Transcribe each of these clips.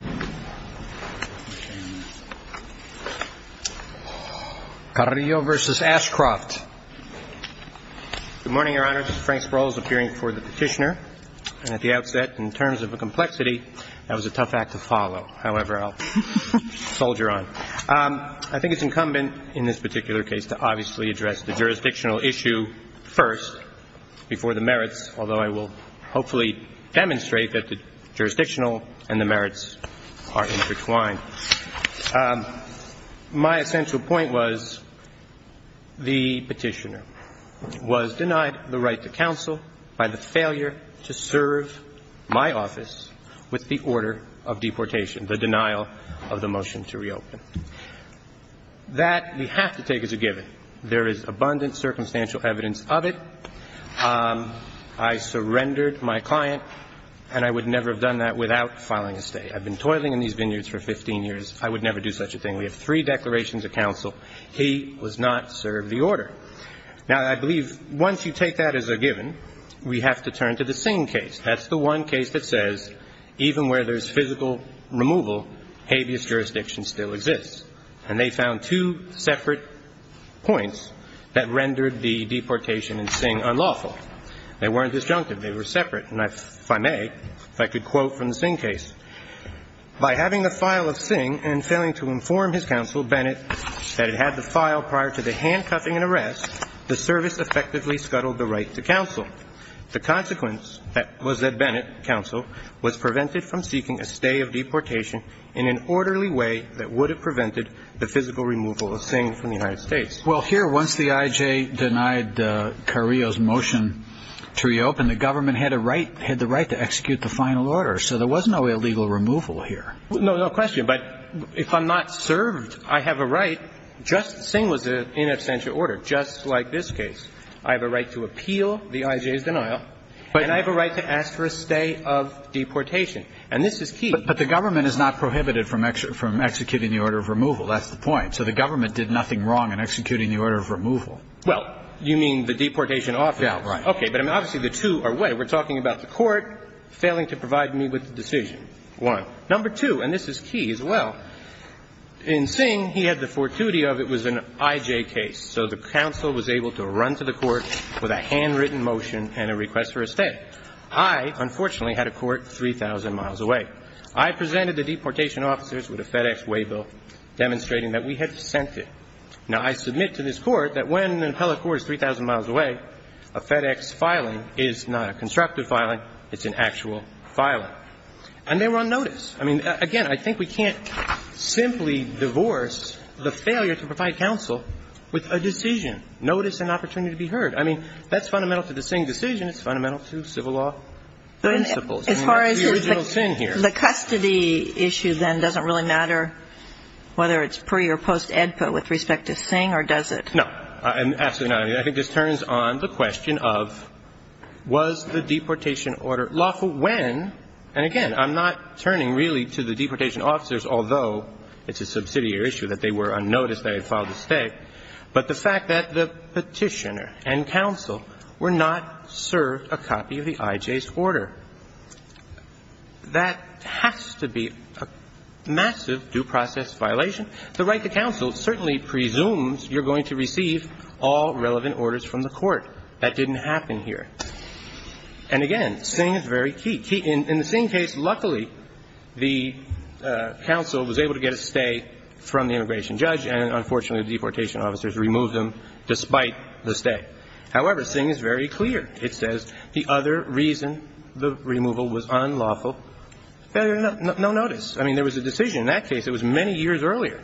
Good morning, Your Honor. Frank Sproul is appearing before the petitioner. At the outset, in terms of a complexity, that was a tough act to follow. However, I'll soldier on. I think it's incumbent in this particular case to obviously address the jurisdictional issue first before the merits, although I will hopefully demonstrate that the jurisdictional and the merits are different. The merits are intertwined. My essential point was the petitioner was denied the right to counsel by the failure to serve my office with the order of deportation, the denial of the motion to reopen. That we have to take as a given. There is abundant circumstantial evidence of it. I surrendered my client, and I would never have done that without filing a state. I've been toiling in these vineyards for 15 years. I would never do such a thing. We have three declarations of counsel. He was not served the order. Now, I believe once you take that as a given, we have to turn to the Singh case. That's the one case that says even where there's physical removal, habeas jurisdiction still exists. And they found two separate points that rendered the deportation in Singh unlawful. They weren't disjunctive. They were separate. And if I may, if I could quote from the Singh case. Well, here, once the I.J. denied Carrillo's motion to reopen, the government had a right, had the right to execute the final order. So there was no illegal deportation. No, no question. But if I'm not served, I have a right, just as Singh was in absentia order, just like this case. I have a right to appeal the I.J.'s denial. And I have a right to ask for a stay of deportation. And this is key. But the government is not prohibited from executing the order of removal. That's the point. So the government did nothing wrong in executing the order of removal. Well, you mean the deportation officers? Yeah, right. Okay. But I mean, obviously, the two are way. We're talking about the court failing to provide me with the decision. One. Number two, and this is key as well, in Singh, he had the fortuity of it was an I.J. case. So the counsel was able to run to the court with a handwritten motion and a request for a stay. I, unfortunately, had a court 3,000 miles away. I presented the deportation officers with a FedEx waybill demonstrating that we had sent it. Now, I submit to this Court that when an appellate court is 3,000 miles away, a FedEx filing is not a constructive filing, it's an actual filing. And they were on notice. I mean, again, I think we can't simply divorce the failure to provide counsel with a decision. Notice and opportunity to be heard. I mean, that's fundamental to the Singh decision. It's fundamental to civil law principles. As far as the custody issue, then, doesn't really matter whether it's pre- or post-AEDPA with respect to Singh, or does it? No. Absolutely not. I mean, I think this turns on the question of was the deportation order lawful when, and again, I'm not turning really to the deportation officers, although it's a subsidiary issue that they were on notice, they had filed a stay, but the fact that the petitioner and counsel were not served a copy of the IJ's order. That has to be a massive due process violation. The right to counsel certainly presumes you're going to receive all relevant orders from the court. That didn't happen here. And again, Singh is very key. In the Singh case, luckily, the counsel was able to get a stay from the immigration judge, and unfortunately, the deportation officers removed them despite the stay. However, Singh is very clear. It says the other reason the removal was unlawful, no notice. I mean, there was a decision in that case. It was many years earlier.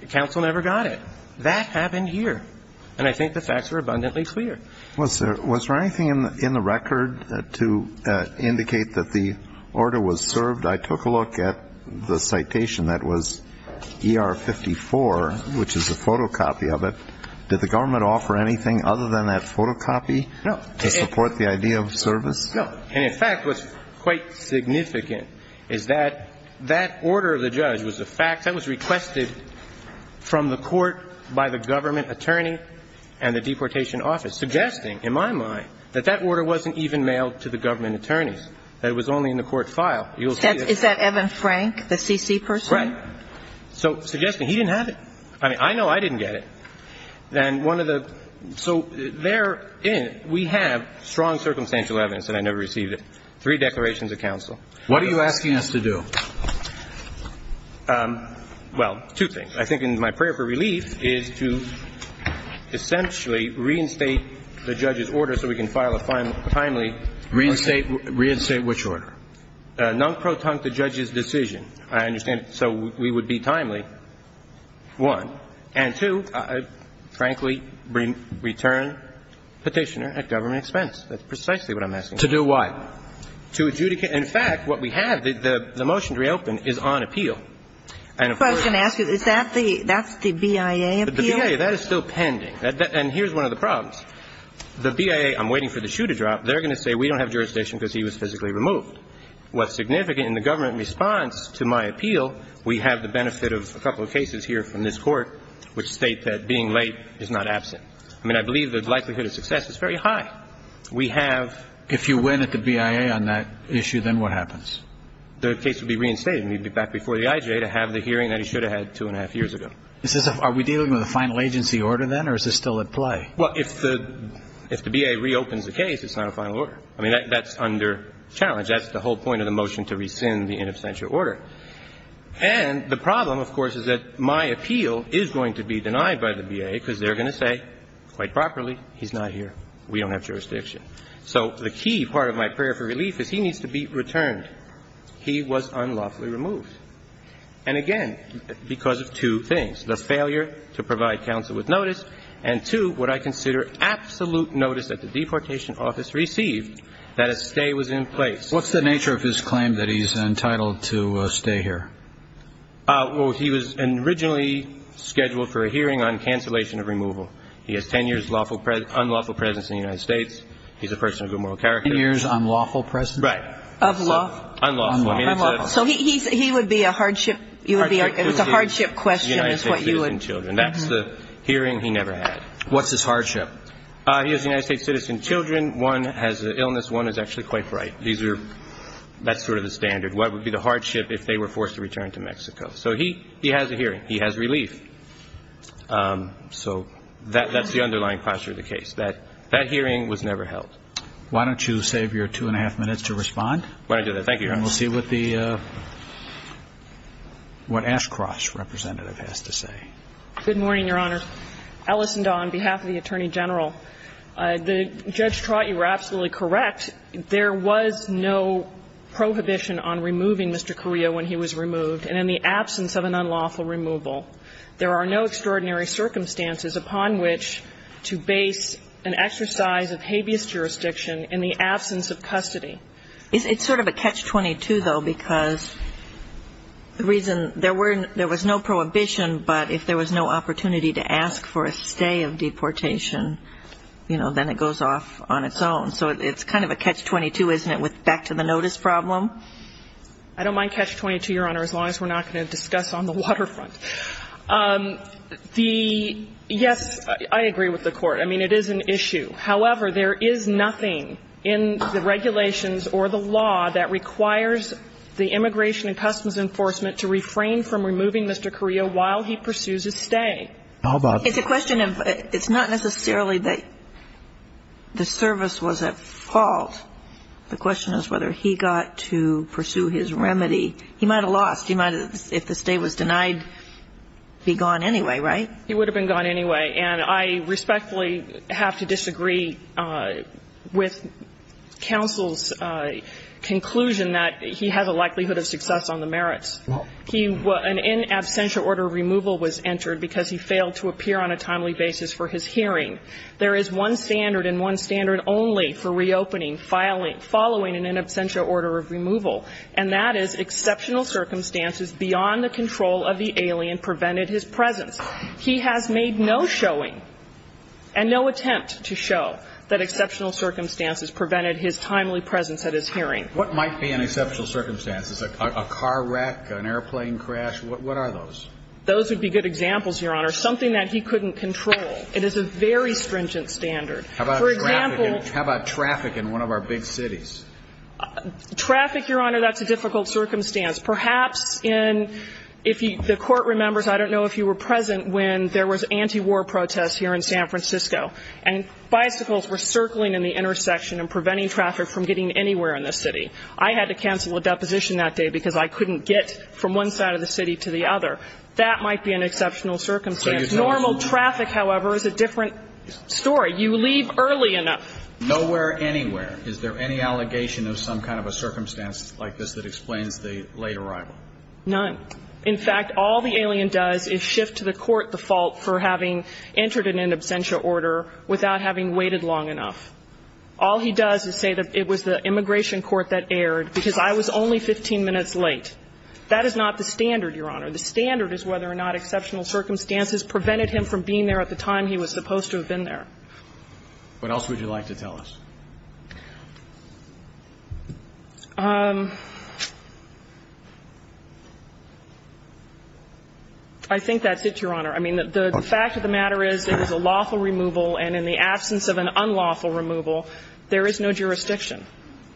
The counsel never got it. That happened here. And I think the facts are abundantly clear. Was there anything in the record to indicate that the order was served? I took a look at the citation that was ER 54, which is a photocopy of it. Did the government offer anything other than that photocopy to support the idea of service? No. And in fact, what's quite significant is that that order of the judge was a fact that was requested from the court by the government attorney and the deportation office, suggesting, in my mind, that that order wasn't even mailed to the government attorneys, that it was only in the court file. You'll see that. Is that Evan Frank, the CC person? Right. So suggesting he didn't have it. I mean, I know I didn't get it. And one of the so there we have strong circumstantial evidence, and I never received it, three declarations of counsel. What are you asking us to do? Well, two things. I think in my prayer for relief is to essentially reinstate the judge's order so we can file a timely order. Reinstate which order? Non-protunct the judge's decision. I understand. So we would be timely, one. And two, frankly, return Petitioner at government expense. That's precisely what I'm asking. To do what? To adjudicate. In fact, what we have, the motion to reopen is on appeal. I was going to ask you, is that the, that's the BIA appeal? The BIA, that is still pending. And here's one of the problems. The BIA, I'm waiting for the shoe to drop. They're going to say we don't have jurisdiction because he was physically removed. What's significant in the government response to my appeal, we have the benefit of a couple of cases here from this court which state that being late is not absent. I mean, I believe the likelihood of success is very high. We have If you win at the BIA on that issue, then what happens? The case would be reinstated, and he'd be back before the IJ to have the hearing that he should have had two and a half years ago. Are we dealing with a final agency order then, or is this still at play? Well, if the BIA reopens the case, it's not a final order. I mean, that's under challenge. That's the whole point of the motion to rescind the in absentia order. And the problem, of course, is that my appeal is going to be denied by the BIA because they're going to say, quite properly, he's not here. We don't have jurisdiction. So the key part of my prayer for relief is he needs to be returned. He was unlawfully removed. And again, because of two things, the failure to provide counsel with notice, and, two, would I consider absolute notice that the deportation office received that a stay was in place. What's the nature of his claim that he's entitled to stay here? Well, he was originally scheduled for a hearing on cancellation of removal. He has ten years unlawful presence in the United States. He's a person of good moral character. Right. Unlawful. Unlawful. So he would be a hardship? It's a hardship question is what you would. That's the hearing he never had. What's his hardship? He has United States citizen children. One has an illness. One is actually quite bright. That's sort of the standard. What would be the hardship if they were forced to return to Mexico? So he has a hearing. He has relief. So that's the underlying posture of the case. That hearing was never held. Why don't you save your two and a half minutes to respond. Why don't I do that? Thank you, Your Honor. We'll see what the, what Ashcroft's representative has to say. Good morning, Your Honor. Alison Dahn, behalf of the Attorney General. Judge Trott, you were absolutely correct. There was no prohibition on removing Mr. Carrillo when he was removed. And in the absence of an unlawful removal, there are no extraordinary circumstances in which he would have been able to remain in Mexico. So I'm just wondering if you could explain that to me. It's sort of a catch-22, though, because the reason there were, there was no prohibition, but if there was no opportunity to ask for a stay of deportation, you know, then it goes off on its own. So it's kind of a catch-22, isn't it, with back to the notice problem? I don't mind catch-22, Your Honor, as long as we're not going to discuss on the waterfront. The, yes, I agree with the Court. I mean, it is an issue. However, there is nothing in the regulations or the law that requires the Immigration and Customs Enforcement to refrain from removing Mr. Carrillo while he pursues his stay. How about the question of, it's not necessarily that the service was at fault. The question is whether he got to pursue his remedy. He might have lost. He might have, if the stay was denied, be gone anyway, right? He would have been gone anyway. And I respectfully have to disagree with counsel's conclusion that he has a likelihood of success on the merits. An in absentia order of removal was entered because he failed to appear on a timely basis for his hearing. There is one standard and one standard only for reopening following an in absentia order of removal. And that is exceptional circumstances beyond the control of the alien prevented his presence. He has made no showing and no attempt to show that exceptional circumstances prevented his timely presence at his hearing. What might be an exceptional circumstance? A car wreck? An airplane crash? What are those? Those would be good examples, Your Honor. Something that he couldn't control. It is a very stringent standard. How about traffic in one of our big cities? Traffic, Your Honor, that's a difficult circumstance. Perhaps in the court remembers, I don't know if you were present when there was anti-war protests here in San Francisco, and bicycles were circling in the intersection and preventing traffic from getting anywhere in the city. I had to cancel a deposition that day because I couldn't get from one side of the city to the other. That might be an exceptional circumstance. Normal traffic, however, is a different story. You leave early enough. Nowhere, anywhere. Is there any allegation of some kind of a circumstance like this that explains the late arrival? None. In fact, all the alien does is shift to the court the fault for having entered in an absentia order without having waited long enough. All he does is say that it was the immigration court that erred because I was only 15 minutes late. That is not the standard, Your Honor. The standard is whether or not exceptional circumstances prevented him from being there at the time he was supposed to have been there. What else would you like to tell us? I think that's it, Your Honor. I mean, the fact of the matter is it was a lawful removal, and in the absence of an unlawful removal, there is no jurisdiction.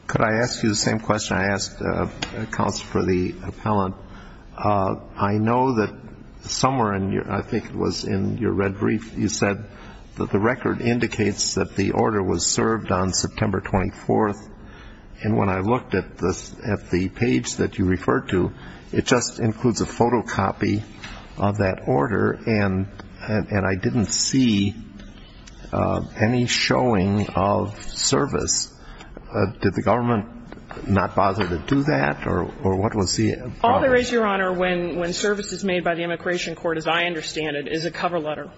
Could I ask you the same question I asked the counsel for the appellant? I know that somewhere in your ‑‑ I think it was in your red brief you said that the record indicates that the order was served on September 24th, and when I looked at the page that you referred to, it just includes a photocopy of that order, and I didn't see any showing of service. Did the government not bother to do that, or what was the ‑‑ All there is, Your Honor, when service is made by the immigration court, as I understand it, is a cover letter.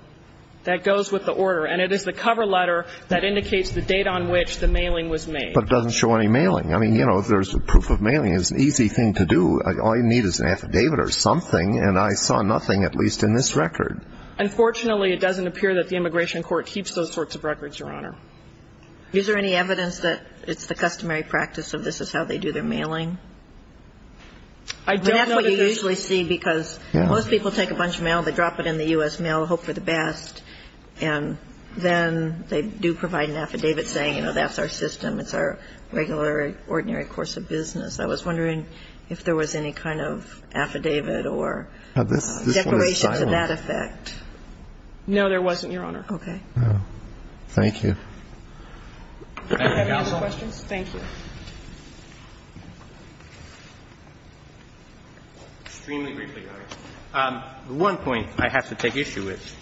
That goes with the order, and it is the cover letter that indicates the date on which the mailing was made. But it doesn't show any mailing. I mean, you know, if there's a proof of mailing, it's an easy thing to do. All you need is an affidavit or something, and I saw nothing, at least in this record. Unfortunately, it doesn't appear that the immigration court keeps those sorts of records, Your Honor. Is there any evidence that it's the customary practice of this is how they do their mailing? I don't know that there is. But that's what you usually see, because most people take a bunch of mail, they drop it in the U.S. mail, hope for the best, and then they do provide an affidavit saying, you know, that's our system, it's our regular, ordinary course of business. I was wondering if there was any kind of affidavit or declaration to that effect. No, there wasn't, Your Honor. Okay. Thank you. Do you have any other questions? Thank you. Extremely briefly, Your Honor. One point I have to take issue with,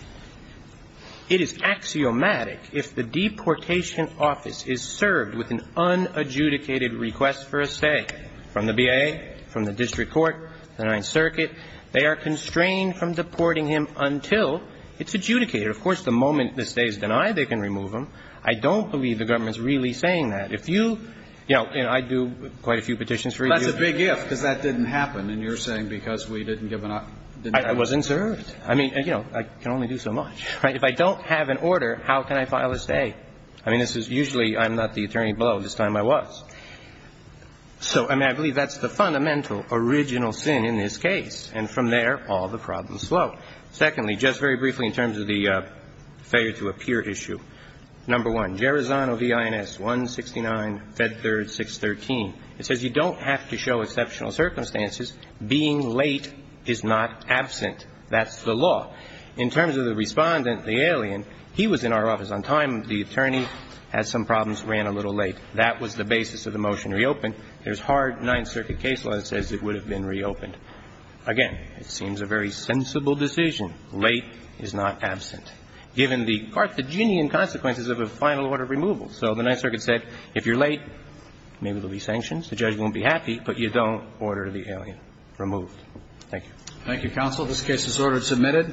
it is axiomatic if the deportation office is served with an unadjudicated request for a stay from the BIA, from the district court, the Ninth Circuit, they are constrained from deporting him until it's adjudicated. Of course, the moment the stay is denied, they can remove him. I don't believe the government is really saying that. If you, you know, and I do quite a few petitions for you. That's a big if, because that didn't happen, and you're saying because we didn't give an I wasn't served. I mean, you know, I can only do so much, right? If I don't have an order, how can I file a stay? I mean, this is usually I'm not the attorney below. This time I was. So, I mean, I believe that's the fundamental original sin in this case. And from there, all the problems flow. Secondly, just very briefly in terms of the failure to appear issue, number one, it says you don't have to show exceptional circumstances. Being late is not absent. That's the law. In terms of the respondent, the alien, he was in our office on time. The attorney had some problems, ran a little late. That was the basis of the motion to reopen. There's hard Ninth Circuit case law that says it would have been reopened. Again, it seems a very sensible decision. Late is not absent. Given the Carthaginian consequences of a final order of removal. So the Ninth Circuit said if you're late, maybe there will be sanctions. The judge won't be happy, but you don't order the alien removed. Thank you. Thank you, counsel. This case is ordered submitted.